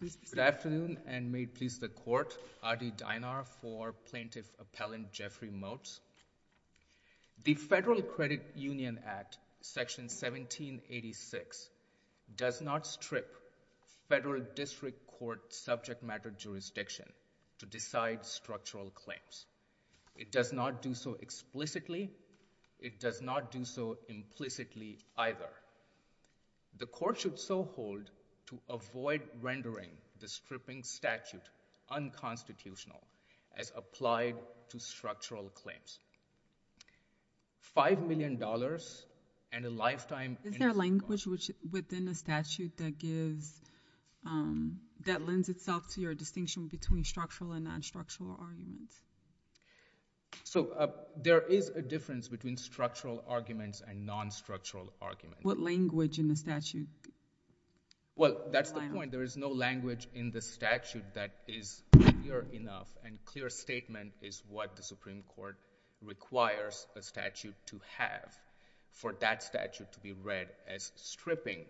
The Federal Credit Union Act, Section 1786, does not strip federal district court subject matter jurisdiction to decide structural claims. It does not do so explicitly. It does not do so implicitly, either. The court should so hold to avoid rendering the stripping statute unconstitutional as applied to structural claims. $5 million and a lifetime in the Supreme Is there language within the statute that gives, that lends itself to your distinction between structural and non-structural arguments? So, there is a difference between structural arguments and non-structural arguments. What language in the statute? Well, that's the point. There is no language in the statute that is clear enough and clear statement is what the Supreme Court requires a statute to have for that statute to be read as stripping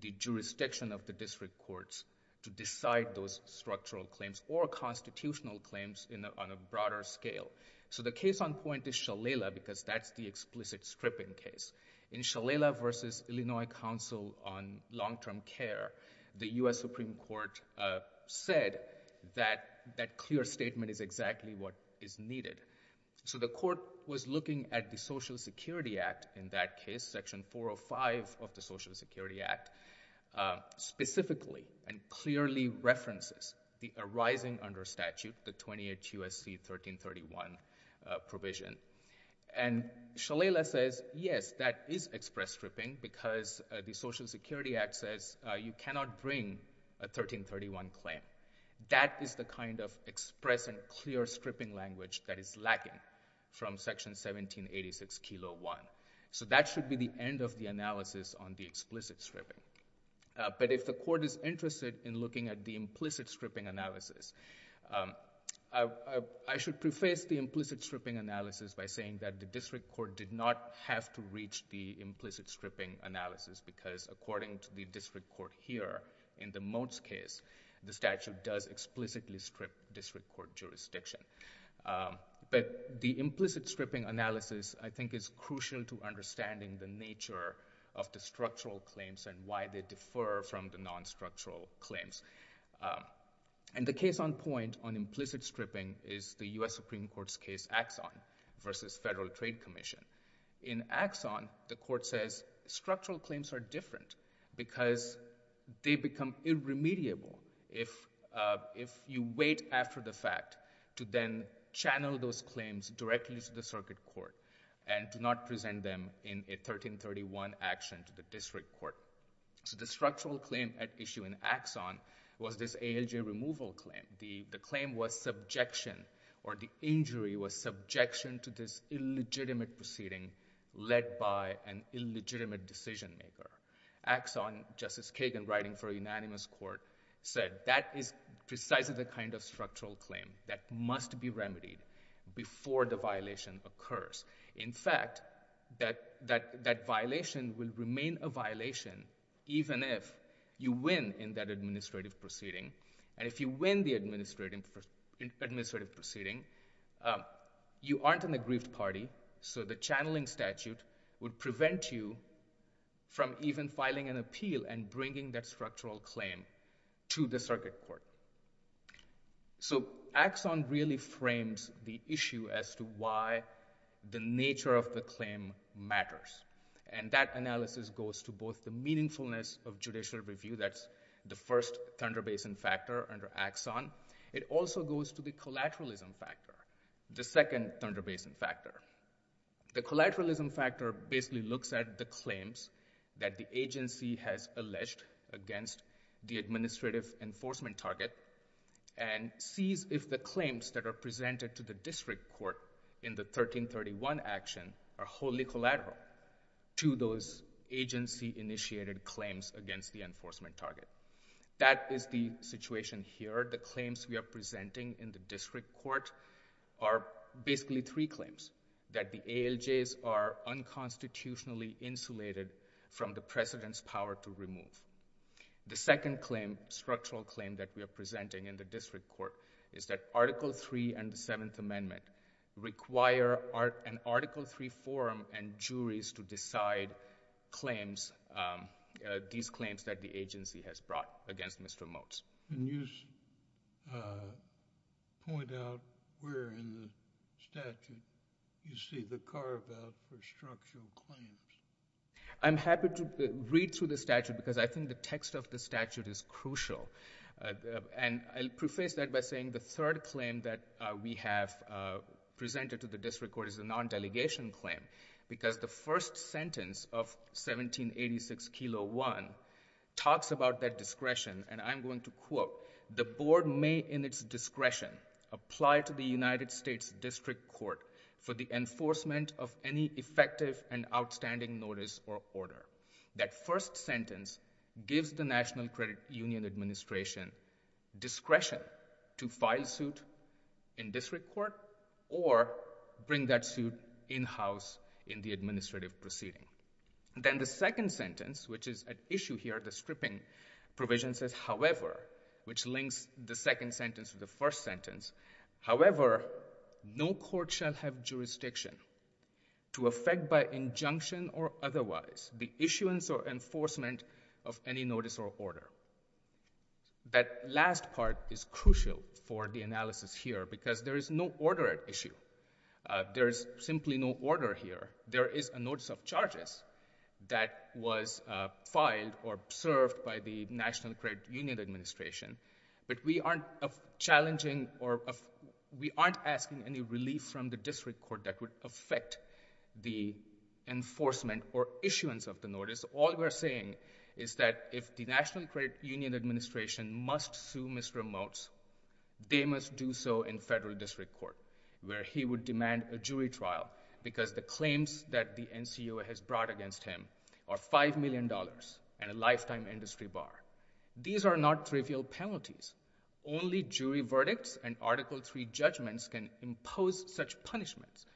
the jurisdiction of the district courts to decide those structural claims or unconstitutional claims on a broader scale. So, the case on point is Shalala because that's the explicit stripping case. In Shalala v. Illinois Council on Long-Term Care, the U.S. Supreme Court said that that clear statement is exactly what is needed. So, the court was looking at the Social Security Act in that case, Section 405 of the Social Security Act, specifically and clearly references the arising under statute, the 28 U.S.C. 1331 provision. And Shalala says, yes, that is express stripping because the Social Security Act says you cannot bring a 1331 claim. That is the kind of express and clear stripping language that is lacking from Section 1786, Kilo 1. So, that should be the end of the analysis on the explicit stripping. But if the court is interested in looking at the implicit stripping analysis, I should preface the implicit stripping analysis by saying that the district court did not have to reach the implicit stripping analysis because according to the district court here, in the Mote's case, the statute does explicitly strip district court jurisdiction. But the implicit stripping analysis, I think, is crucial to understanding the nature of the structural claims and why they differ from the non-structural claims. And the case on point on implicit stripping is the U.S. Supreme Court's case, Axon v. Federal Trade Commission. In Axon, the court says structural claims are different because they become irremediable if you wait after the fact to then channel those claims directly to the circuit court and to not present them in a 1331 action to the district court. So, the structural claim at issue in Axon was this ALJ removal claim. The claim was subjection or the injury was subjection to this illegitimate proceeding led by an illegitimate decision maker. Axon, Justice Kagan, writing for a unanimous court, said that is precisely the kind of structural claim that must be remedied before the violation occurs. In fact, that violation will remain a violation even if you win in that administrative proceeding. And if you win the administrative proceeding, you aren't an aggrieved party, so the channeling statute would prevent you from even filing an appeal and bringing that structural claim to the circuit court. So, Axon really frames the issue as to why the nature of the claim matters. And that analysis goes to both the meaningfulness of judicial review, that's the first Thunder Basin factor under Axon. It also goes to the collateralism factor, the second Thunder Basin factor. The collateralism factor basically looks at the claims that the agency has alleged against the administrative enforcement target and sees if the claims that are presented to the district court in the 1331 action are wholly collateral to those agency-initiated claims against the enforcement target. That is the situation here. The claims we are presenting in the district court are basically three claims, that the ALJs are unconstitutionally insulated from the President's power to remove. The second claim, structural claim that we are presenting in the district court, is that Article III and the Seventh Amendment require an Article III forum and juries to decide these claims that the agency has brought against Mr. Motes. And you point out where in the statute you see the carve-out for structural claims. I'm happy to read through the statute because I think the text of the statute is crucial. And I'll preface that by saying the third claim that we have presented to the district court is a non-delegation claim because the first sentence of 1786-1 talks about that discretion and I'm going to quote, the Board may in its discretion apply to the United States District Court for the enforcement of any effective and outstanding notice or order. That first sentence gives the National Credit Union Administration discretion to file suit in district court or bring that suit in-house in the administrative proceeding. Then the second sentence, which is at issue here, the stripping provision says, however, which links the second sentence to the first sentence, however, no court shall have jurisdiction to affect by injunction or otherwise the issuance or enforcement of any notice or order. That last part is crucial for the analysis here because there is no order at issue. There is simply no order here. There is a notice of charges that was filed or served by the National Credit Union Administration, but we aren't challenging or we aren't asking any relief from the district court that would affect the enforcement or issuance of the notice. The National Credit Union Administration must sue Mr. Motz. They must do so in federal district court where he would demand a jury trial because the claims that the NCOA has brought against him are $5 million and a lifetime industry bar. These are not trivial penalties. Only jury verdicts and Article III judgments can impose such punishments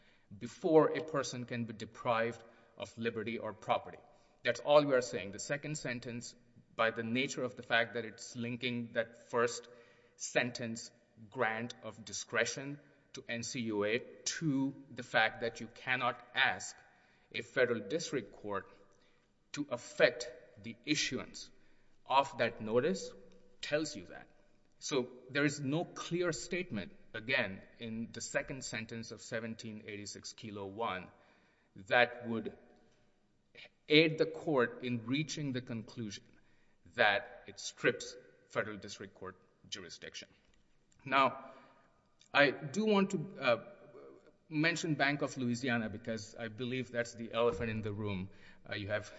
before a person can be deprived of liberty or property. That's all we are saying. The second sentence, by the nature of the fact that it's linking that first sentence grant of discretion to NCOA to the fact that you cannot ask a federal district court to affect the issuance of that notice tells you that. There is no clear statement, again, in the second sentence of 1786-1 that would aid the court in reaching the conclusion that it strips federal district court jurisdiction. Now, I do want to mention Bank of Louisiana because I believe that's the elephant in the room. You have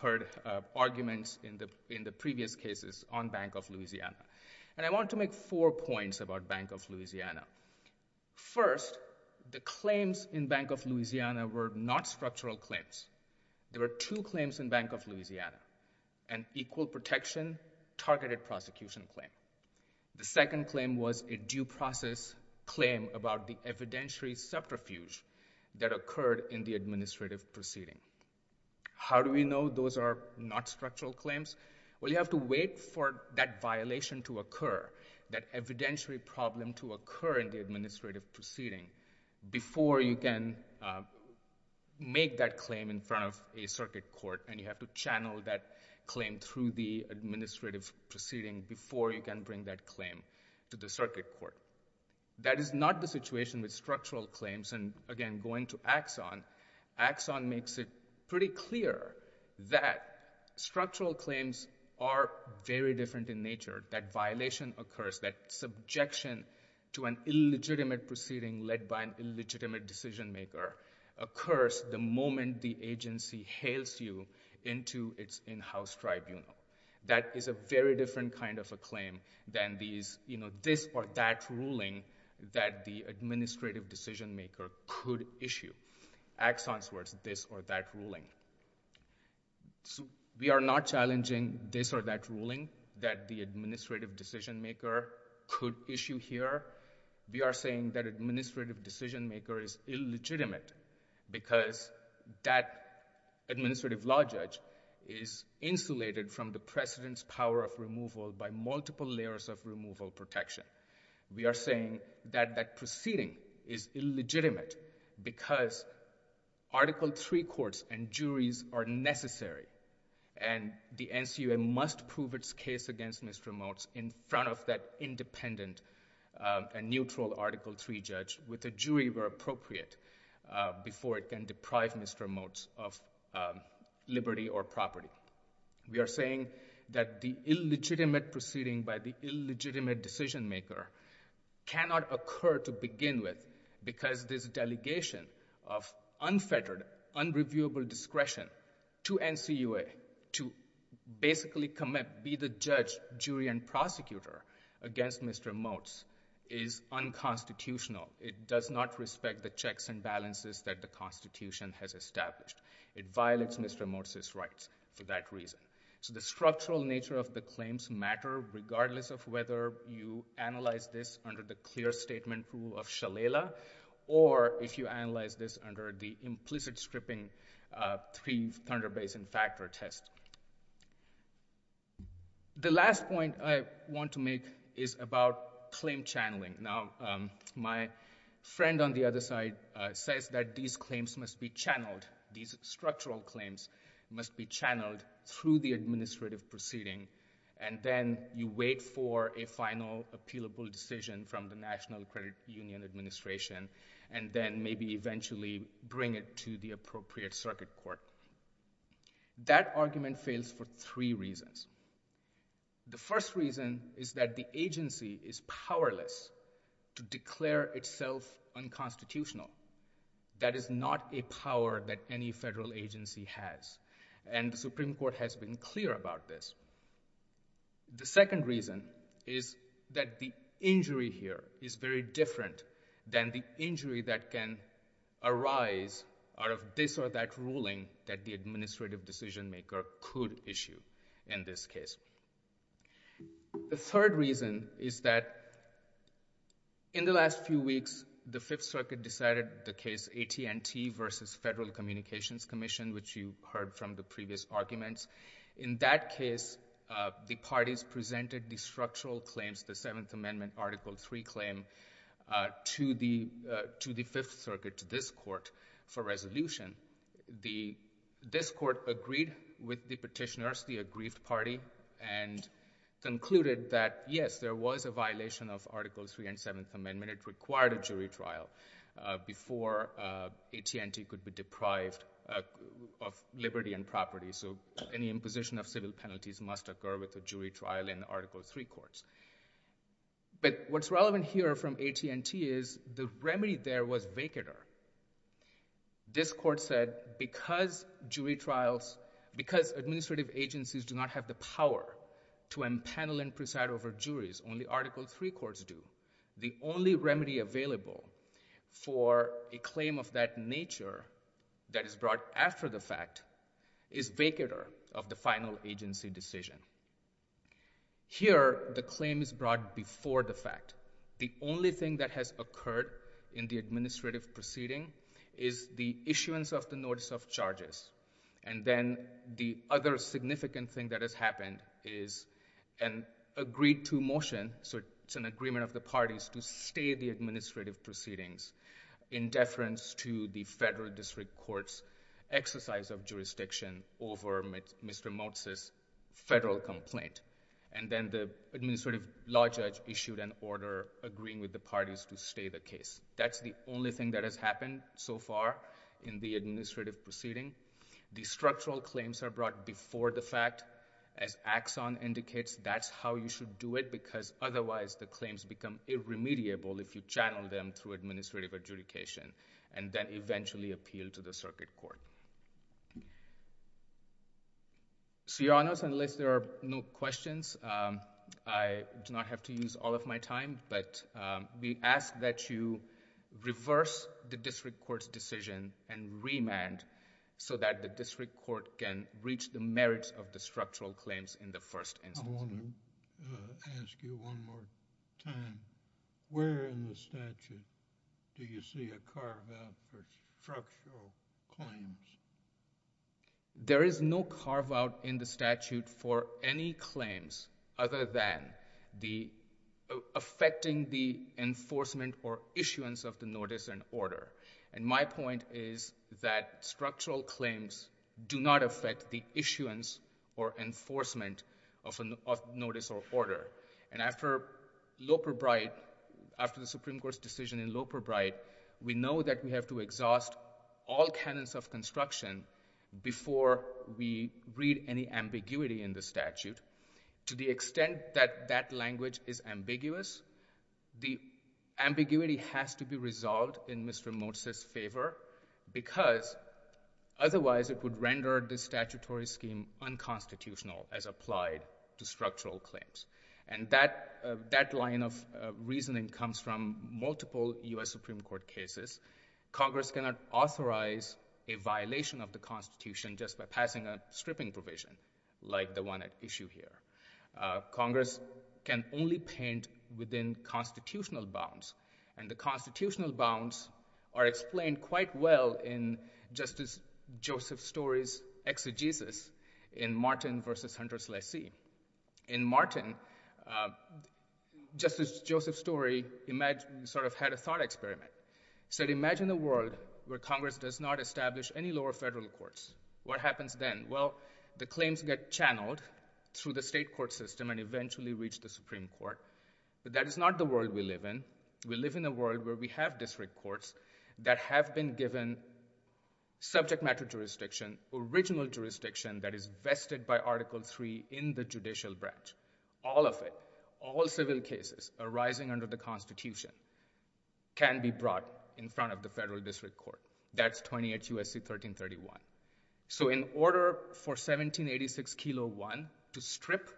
heard arguments in the previous cases on Bank of Louisiana. I want to make four points about Bank of Louisiana. First, the claims in Bank of Louisiana were not structurally claims. There were two claims in Bank of Louisiana, an equal protection targeted prosecution claim. The second claim was a due process claim about the evidentiary subterfuge that occurred in the administrative proceeding. How do we know those are not structural claims? Well, you have to wait for that violation to occur, that evidentiary problem to occur in the administrative proceeding before you can make that claim in front of a circuit court. You have to channel that claim through the administrative proceeding before you can bring that claim to the circuit court. That is not the situation with structural claims. Again, going to Axon, Axon makes it pretty clear that structural claims are very different in nature, that violation occurs, that subjection to an illegitimate proceeding led by an illegitimate decision maker occurs the moment the agency hails you into its in-house tribunal. That is a very different kind of a claim than these, you know, this or that ruling that the administrative decision maker could issue. Axon's words, this or that ruling. We are not challenging this or that ruling that the administrative decision maker could issue here. We are saying that administrative decision maker is illegitimate because that administrative law judge is insulated from the president's power of removal by multiple layers of removal protection. We are saying that that proceeding is illegitimate because Article III courts and juries are necessary and the NCUA must prove its case against Mr. Motz in front of that independent and neutral Article III judge with a jury where appropriate before it can deprive Mr. Motz of liberty or property. We are saying that the illegitimate proceeding by the illegitimate decision maker cannot occur to begin with because this delegation of unfettered, unreviewable discretion to NCUA to basically commit, be the judge, jury, and prosecutor against Mr. Motz is unconstitutional. It does not respect the checks and balances that the Constitution has established. It violates Mr. Motz's rights for that reason. So the structural nature of the claims matter regardless of whether you analyze this under the clear statement rule of Shalala or if you analyze this under the implicit stripping three-thunder basin factor test. The last point I want to make is about claim channeling. Now, my friend on the other side says that these claims must be channeled, these structural claims must be channeled through the administrative proceeding, and then you wait for a final appealable decision from the National Credit Union Administration and then maybe eventually bring it to the appropriate circuit court. That argument fails for three reasons. The first reason is that the agency is powerless to declare itself unconstitutional. That is not a power that any federal agency has, and the Supreme Court has been clear about this. The second reason is that the injury here is very different than the injury that can arise out of this or that ruling that the administrative decision-maker could issue in this case. The third reason is that in the last few weeks, the Fifth Circuit decided the case AT&T versus Federal Communications Commission, which you heard from the previous arguments. In that case, the parties presented the structural claims, the Seventh Amendment Article III claim, to the Fifth Circuit, to this court, for resolution. This court agreed with the petitioners, the aggrieved party, and concluded that, yes, there was a violation of Article III and Seventh Amendment. It required a jury trial before AT&T could be deprived of liberty and property, so any imposition of civil penalties must occur with a jury trial in Article III courts. What's relevant here from AT&T is the remedy there was vacator. This court said, because administrative agencies do not have the power to impanel and preside over juries, only Article III courts do, the only remedy available for a claim of that nature that is brought after the fact is vacator of the final agency decision. Here, the claim is brought before the fact. The only thing that has occurred in the administrative proceeding is the issuance of the notice of charges, and then the other significant thing that has happened is an agreed-to motion, so it's an agreement of the parties to stay the administrative proceedings in deference to the Federal District Court's exercise of jurisdiction over Mr. Motz's federal complaint, and then the administrative law judge issued an order agreeing with the parties to stay the case. That's the only thing that has happened so far in the administrative proceeding. The structural claims are brought before the fact. As Axon indicates, that's how you should do it, because otherwise the claims become irremediable if you channel them through administrative adjudication and then eventually appeal to the circuit court. Your Honors, unless there are no questions, I do not have to use all of my time, but we ask that you reverse the district court's decision and remand so that the district court can reach the merits of the structural claims in the first instance. I want to ask you one more time. Where in the statute do you see a carve-out for structural claims? There is no carve-out in the statute for any claims other than affecting the enforcement or issuance of the notice and order. My point is that structural claims do not affect the issuance or enforcement of notice or order. After the Supreme Court's decision in Loperbright, we know that we have to exhaust all canons of construction before we read any ambiguity in the statute. To the extent that that language is ambiguous, the ambiguity has to be resolved in Mr. Motz's favor, because otherwise it would render the statutory scheme unconstitutional as applied to structural claims. That line of reasoning comes from multiple U.S. Supreme Court cases. Congress cannot authorize a violation of the Constitution just by passing a stripping provision like the one at issue here. Congress can only paint within constitutional bounds, and the constitutional bounds are explained quite well in Justice Joseph Story's exegesis in Martin v. Hunter Slicy. In Martin, Justice Joseph Story sort of had a thought experiment. He said, imagine a world where Congress does not establish any lower federal courts. What happens then? Well, the claims get channeled through the state court system and eventually reach the Supreme Court. But that is not the world we live in. We live in a world where we have district courts that have been given subject matter jurisdiction, original jurisdiction that is vested by Article III in the judicial branch. All of it, all civil cases arising under the Constitution can be brought in front of the federal district court. That's 28 U.S.C. 1331. So in order for 1786-1 to strip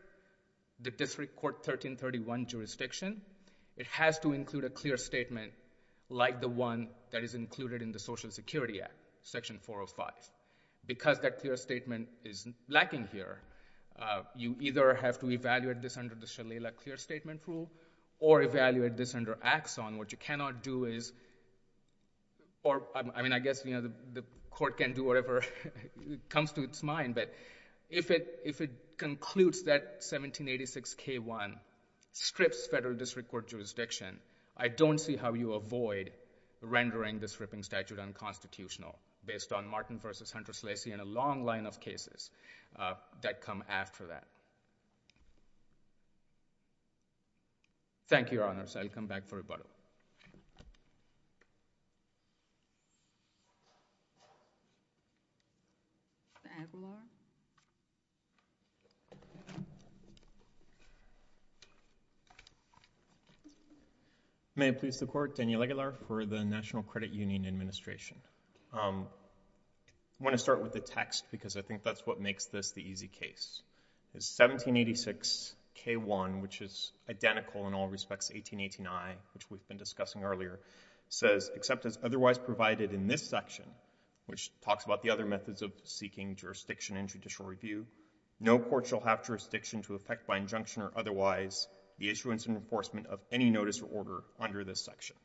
the district court 1331 jurisdiction, it has to include a clear statement like the one that is included in the Social Security Act, Section 405. Because that clear statement is lacking here, you either have to evaluate this under the Shalala Clear Statement Rule or evaluate this under Axon. What you cannot do is, or I mean I guess the court can do whatever comes to its mind, but if it concludes that 1786-1 strips federal district court jurisdiction, I don't see how you avoid rendering this stripping statute unconstitutional based on Martin v. Hunter Slicy and a long line of cases that come after that. Thank you, Your Honors. I'll come back for rebuttal. Daniel Aguilar. May it please the Court, Daniel Aguilar for the National Credit Union Administration. I want to start with the text because I think that's what makes this the easy case. 1786-k-1, which is identical in all respects to 1889, which we've been discussing earlier, says except as otherwise provided in this section, which talks about the other methods of seeking jurisdiction and judicial review, no court shall have jurisdiction to effect by injunction or otherwise the issuance and enforcement of any notice or order under this section.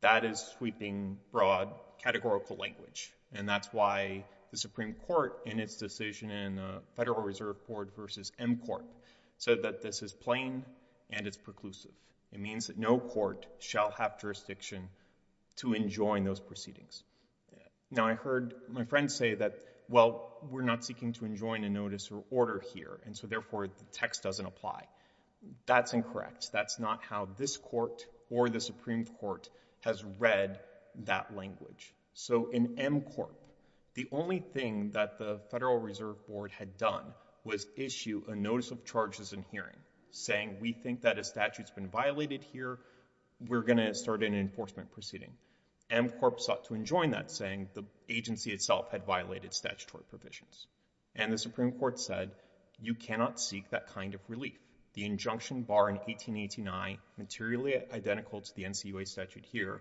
That is sweeping, broad, categorical language, and that's why the Supreme Court, in its decision in Federal Reserve Court v. M Court, said that this is plain and it's preclusive. It means that no court shall have jurisdiction to enjoin those proceedings. Now, I heard my friend say that, well, we're not seeking to enjoin a notice or order here, and so therefore, the text doesn't apply. That's incorrect. That's not how this court or the Supreme Court has read that language. So, in M Court, the only thing that the Federal Reserve Board had done was issue a notice of charges in hearing, saying we think that a statute's been violated here, we're going to start an enforcement proceeding. M Court sought to enjoin that, saying the agency itself had violated statutory provisions, and the Supreme Court said you cannot seek that kind of relief. The injunction bar in 1889, materially identical to the NCUA statute here,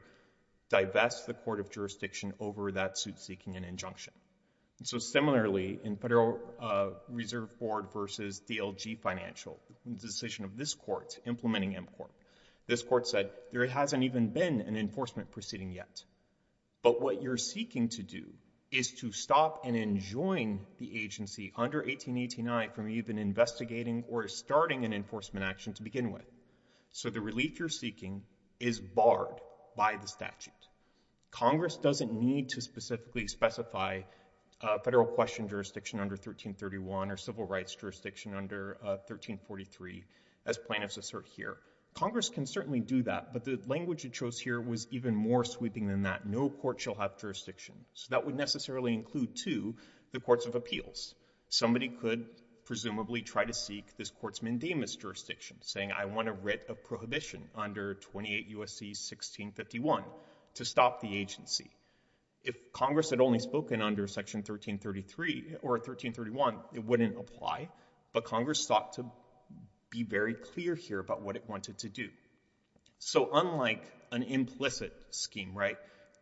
divests the court of jurisdiction over that suit seeking an injunction. So similarly, in Federal Reserve Board v. DLG Financial, the decision of this court implementing M Court, this court said there hasn't even been an enforcement proceeding yet, but what you're seeking to do is to stop and enjoin the agency under 1889 from even investigating or starting an enforcement action to begin with. So the relief you're seeking is barred by the statute. Congress doesn't need to specifically specify federal question jurisdiction under 1331 or civil rights jurisdiction under 1343, as plaintiffs assert here. Congress can certainly do that, but the language it chose here was even more sweeping than that. No court shall have jurisdiction. So that would necessarily include, too, the courts of appeals. Somebody could presumably try to seek this court's mandamus jurisdiction, saying I want a writ of prohibition under 28 U.S.C. 1651 to stop the agency. If Congress had only spoken under Section 1333 or 1331, it wouldn't apply, but Congress sought to be very clear here about what it wanted to do. So unlike an implicit scheme, right,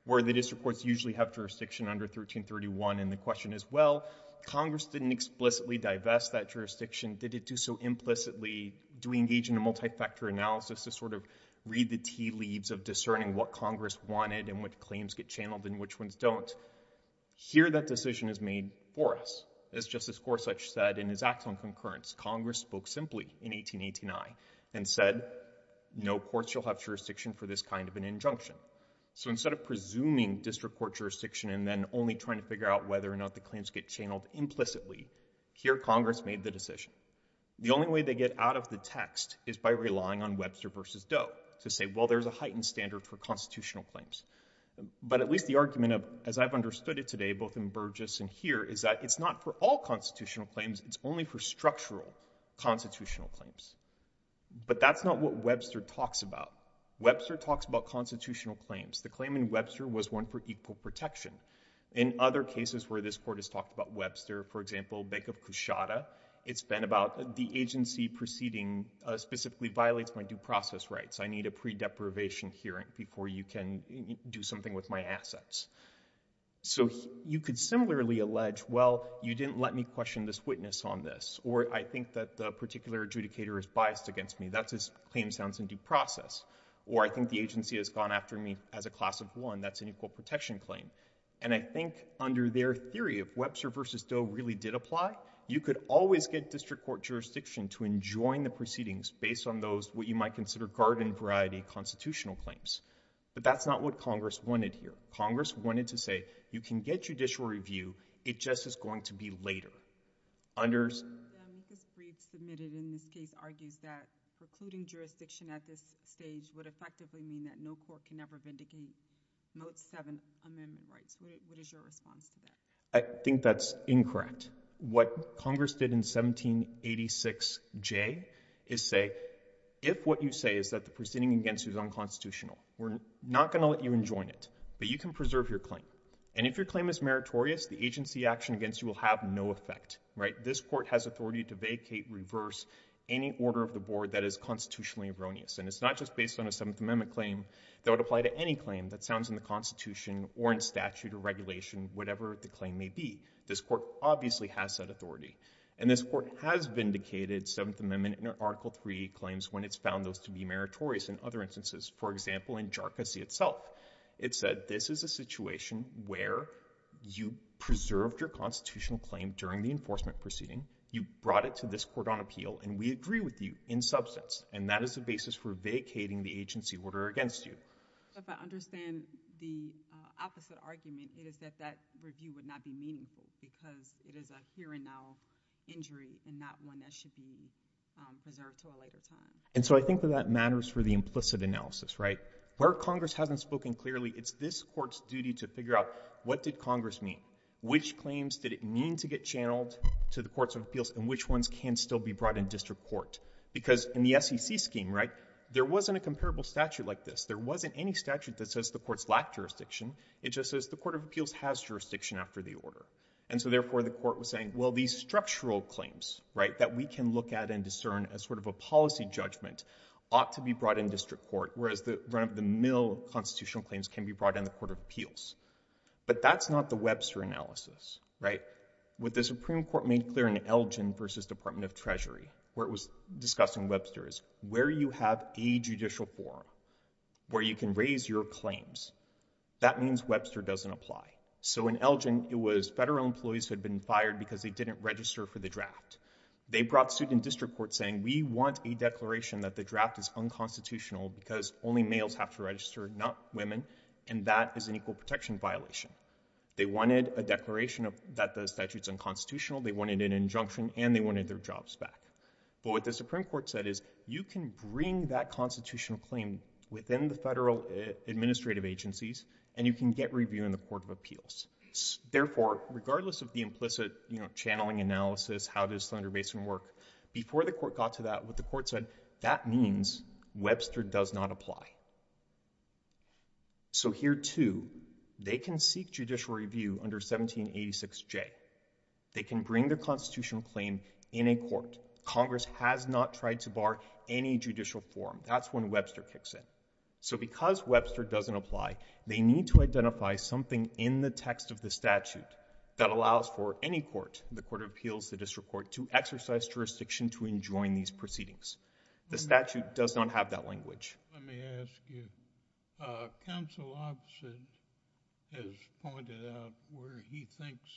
where the district courts usually have jurisdiction under 1331 in the question as well, Congress didn't explicitly divest that jurisdiction. Did it do so implicitly? Do we engage in a multi-factor analysis to sort of read the tea leaves of discerning what Congress wanted and what claims get channeled and which ones don't? Here that decision is made for us. As Justice Gorsuch said in his acts on concurrence, Congress spoke simply in 1889 and said no courts shall have jurisdiction for this kind of an injunction. So instead of presuming district court jurisdiction and then only trying to figure out whether or not the claims get channeled implicitly, here Congress made the decision. The only way they get out of the text is by relying on Webster versus Doe to say, well, there's a heightened standard for constitutional claims. But at least the argument of, as I've understood it today, both in Burgess and here, is that it's not for all constitutional claims. It's only for structural constitutional claims. But that's not what Webster talks about. Webster talks about constitutional claims. The claim in Webster was one for equal protection. In other cases where this Court has talked about Webster, for example, Bank of Cushata, it's been about the agency proceeding specifically violates my due process rights. I need a pre-deprivation hearing before you can do something with my assets. So you could similarly allege, well, you didn't let me question this witness on this, or I think that the particular adjudicator is biased against me. That's his claim sounds in due process. Or I think the agency has gone after me as a class of one. That's an equal protection claim. And I think under their theory, if Webster versus Doe really did apply, you could always get district court jurisdiction to enjoin the proceedings based on those, what you might consider garden variety constitutional claims. But that's not what Congress wanted here. Congress wanted to say, you can get judicial review. It just is going to be later. This brief submitted in this case argues that precluding jurisdiction at this stage would effectively mean that no court can ever vindicate mode seven amendment rights. What is your response to that? I think that's incorrect. What Congress did in 1786J is say, if what you say is that the proceeding against you is unconstitutional, we're not going to let you enjoin it, but you can preserve your claim. And if your claim is meritorious, the agency action against you will have no effect, right? This court has authority to vacate, reverse any order of the board that is constitutionally erroneous. And it's not just based on a seventh amendment claim that would apply to any claim that sounds in the constitution or in statute or regulation, whatever the claim may be. This court obviously has said authority and this court has vindicated seventh amendment in article three claims when it's found those to be meritorious in other instances, for example, in Jharkhand itself, it said, this is a situation where you preserved your constitutional claim during the enforcement proceeding. You brought it to this court on appeal and we agree with you in substance. And that is the basis for vacating the agency order against you. If I understand the opposite argument, it is that that review would not be meaningful because it is a here and now injury and not one that should be preserved to a later time. And so I think that that matters for the implicit analysis, right? Where Congress hasn't spoken clearly, it's this court's duty to figure out what did Congress mean? Which claims did it mean to get channeled to the courts of appeals and which ones can still be brought in district court? Because in the SEC scheme, right, there wasn't a comparable statute like this. There wasn't any statute that says the courts lack jurisdiction. It just says the court of appeals has jurisdiction after the order. And so therefore the court was saying, well, these structural claims, right, that we can look at and discern as sort of a policy judgment ought to be brought in district court, whereas the mill constitutional claims can be brought in the court of appeals. But that's not the Webster analysis, right? What the Supreme Court made clear in Elgin versus Department of Treasury, where it was discussing Webster, is where you have a judicial forum where you can raise your claims, that means Webster doesn't apply. So in Elgin, it was federal employees who had been fired because they didn't register for the draft. They brought suit in district court saying, we want a declaration that the draft is unconstitutional because only males have to register, not women, and that is an equal protection violation. They wanted a declaration that the statute is unconstitutional, they wanted an injunction, and they wanted their jobs back. But what the Supreme Court said is, you can bring that constitutional claim within the federal administrative agencies and you can get review in the court of appeals. Therefore, regardless of the implicit channeling analysis, how does Slender Basin work, before the court got to that, what the court said, that means Webster does not apply. So here, too, they can seek judicial review under 1786J. They can bring their constitutional claim in a court. Congress has not tried to bar any judicial forum. That's when Webster kicks in. So because Webster doesn't apply, they need to identify something in the text of the statute that allows for any court, the court of appeals, the district court, to exercise jurisdiction to enjoin these proceedings. The statute does not have that language. Let me ask you, Counsel Opposite has pointed out where he thinks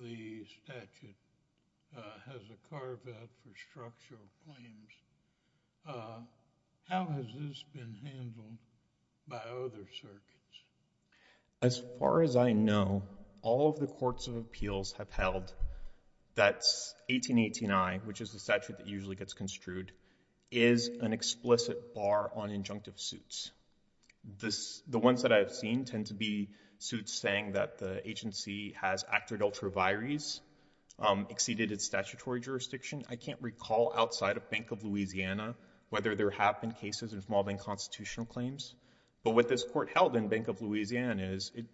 the statute has a carve-out for structural claims. How has this been handled by other circuits? As far as I know, all of the courts of appeals have held that 1818I, which is the statute that gets construed, is an explicit bar on injunctive suits. The ones that I've seen tend to be suits saying that the agency has acted ultra vires, exceeded its statutory jurisdiction. I can't recall outside of Bank of Louisiana whether there have been cases involving constitutional claims, but what this court held in Bank of Louisiana is it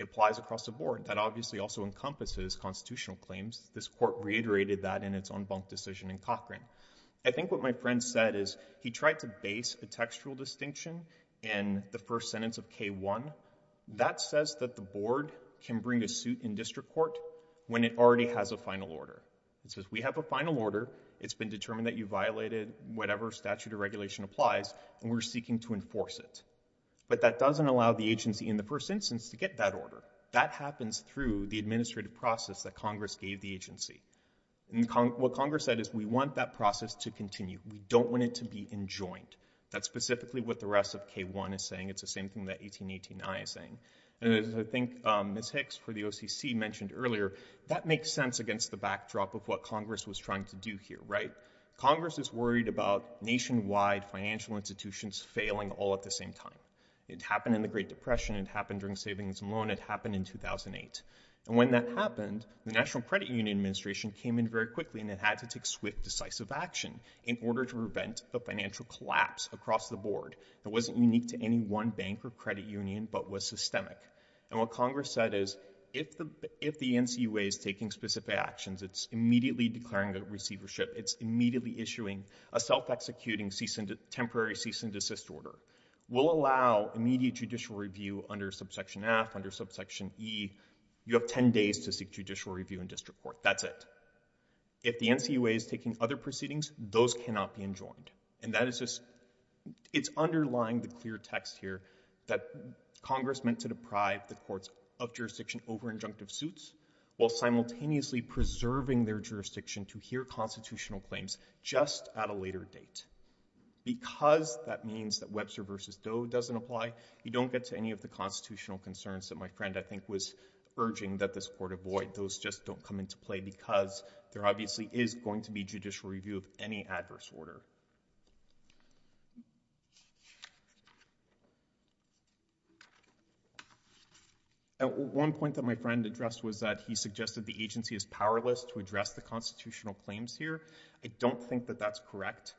applies across the board. That obviously also encompasses constitutional claims. This court reiterated that in its own decision in Cochran. I think what my friend said is he tried to base a textual distinction in the first sentence of K-1. That says that the board can bring a suit in district court when it already has a final order. It says we have a final order. It's been determined that you violated whatever statute or regulation applies, and we're seeking to enforce it. But that doesn't allow the agency in the first instance to get that order. That happens through the administrative process that Congress gave the agency. And what Congress said is we want that process to continue. We don't want it to be enjoined. That's specifically what the rest of K-1 is saying. It's the same thing that 1818-I is saying. And as I think Ms. Hicks for the OCC mentioned earlier, that makes sense against the backdrop of what Congress was trying to do here, right? Congress is worried about nationwide financial institutions failing all at the same time. It happened in the Great Depression. It happened during savings and loan. It happened in 2008. And when that happened, the National Credit Administration came in very quickly, and it had to take swift, decisive action in order to prevent the financial collapse across the board. It wasn't unique to any one bank or credit union, but was systemic. And what Congress said is if the NCOA is taking specific actions, it's immediately declaring the receivership. It's immediately issuing a self-executing temporary cease and desist order. We'll allow immediate judicial review under subsection F, under subsection E, you have 10 days to seek judicial review in district court. That's it. If the NCOA is taking other proceedings, those cannot be enjoined. And that is just, it's underlying the clear text here that Congress meant to deprive the courts of jurisdiction over injunctive suits while simultaneously preserving their jurisdiction to hear constitutional claims just at a later date. Because that means that Webster versus Doe doesn't apply, you don't get to any of the I think was urging that this court avoid. Those just don't come into play because there obviously is going to be judicial review of any adverse order. At one point that my friend addressed was that he suggested the agency is powerless to address the constitutional claims here. I don't think that that's correct.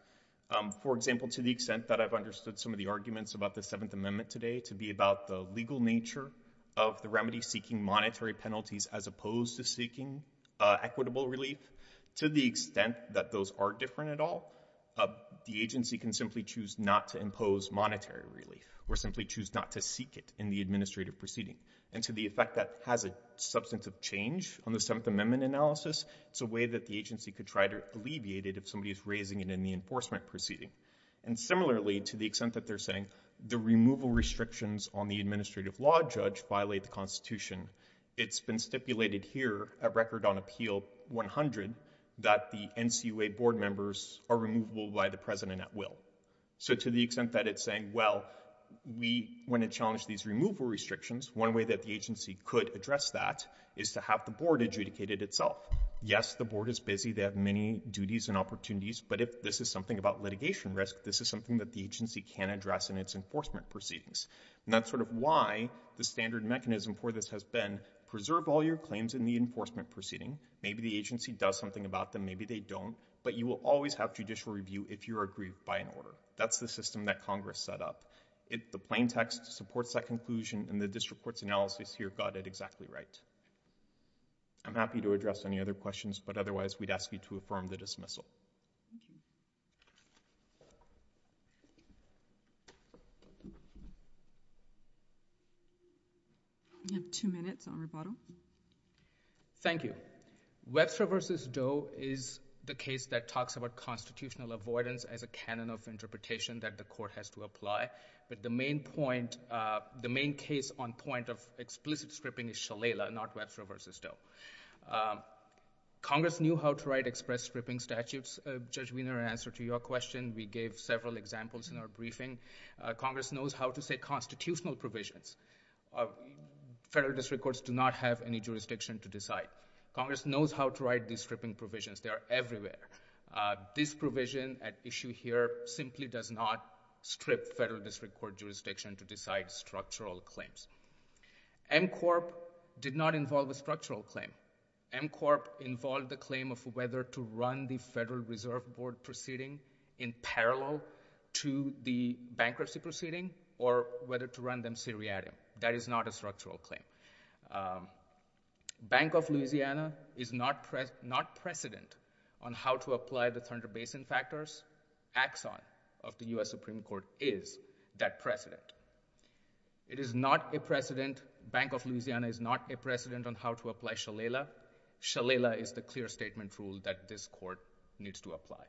For example, to the extent that I've understood some of the arguments about the Seventh Amendment today to be about the legal nature of the remedy seeking monetary penalties as opposed to seeking equitable relief, to the extent that those are different at all, the agency can simply choose not to impose monetary relief or simply choose not to seek it in the administrative proceeding. And to the effect that has a substantive change on the Seventh Amendment analysis, it's a way that the agency could try to alleviate it if somebody is raising it in the enforcement proceeding. And similarly, to the extent that they're saying the removal restrictions on the administrative law judge violate the Constitution, it's been stipulated here at record on Appeal 100 that the NCOA board members are removable by the president at will. So to the extent that it's saying, well, we want to challenge these removal restrictions, one way that the agency could address that is to have the board adjudicated itself. Yes, the board is busy. They have many duties and opportunities. But if this is something about litigation risk, this is something that the agency can address in its enforcement proceedings. And that's sort of why the standard mechanism for this has been preserve all your claims in the enforcement proceeding. Maybe the agency does something about them. Maybe they don't. But you will always have judicial review if you're aggrieved by an order. That's the system that Congress set up. The plain text supports that conclusion, and the district court's analysis here got it exactly right. I'm happy to address any other questions, but otherwise, we'd ask you to affirm the dismissal. We have two minutes on rebuttal. Thank you. Webster v. Doe is the case that talks about constitutional avoidance as a canon of interpretation that the court has to apply. But the main point, the main case on point of explicit stripping is Shalala, not Webster v. Doe. Congress knew how to write express stripping statutes. Judge Wiener, in answer to your question, we gave several examples in our briefing. Congress knows how to say constitutional provisions. Federal district courts do not have any jurisdiction to decide. Congress knows how to write these stripping provisions. They are everywhere. This provision at issue here simply does not strip federal district court to decide structural claims. M Corp. did not involve a structural claim. M Corp. involved the claim of whether to run the Federal Reserve Board proceeding in parallel to the bankruptcy proceeding or whether to run them seriatim. That is not a structural claim. Bank of Louisiana is not precedent on how to apply the Thunder Basin factors. Axon of the U.S. Supreme Court is that precedent. It is not a precedent, Bank of Louisiana is not a precedent on how to apply Shalala. Shalala is the clear statement rule that this court needs to apply.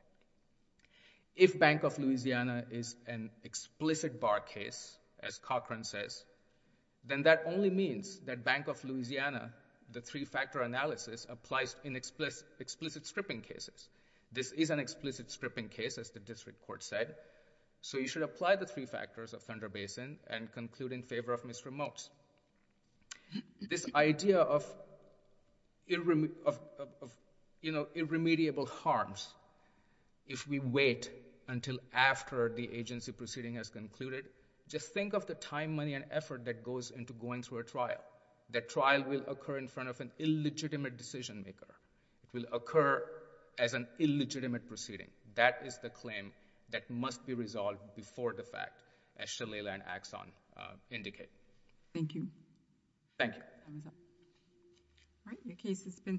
If Bank of Louisiana is an explicit bar case, as Cochran says, then that only means that Bank of Louisiana, the three-factor analysis, applies in explicit stripping cases. This is an explicit stripping case, as the district court said. You should apply the three factors of Thunder Basin and conclude in favor of misremotes. This idea of irremediable harms, if we wait until after the agency proceeding has concluded, just think of the time, money, and effort that goes into going through a trial. That trial will occur in front of an illegitimate decision maker. It will occur as an illegitimate proceeding. That is the claim that must be resolved before the fact, as Shalala and Axon indicate. Thank you. Thank you. All right, the case has been submitted.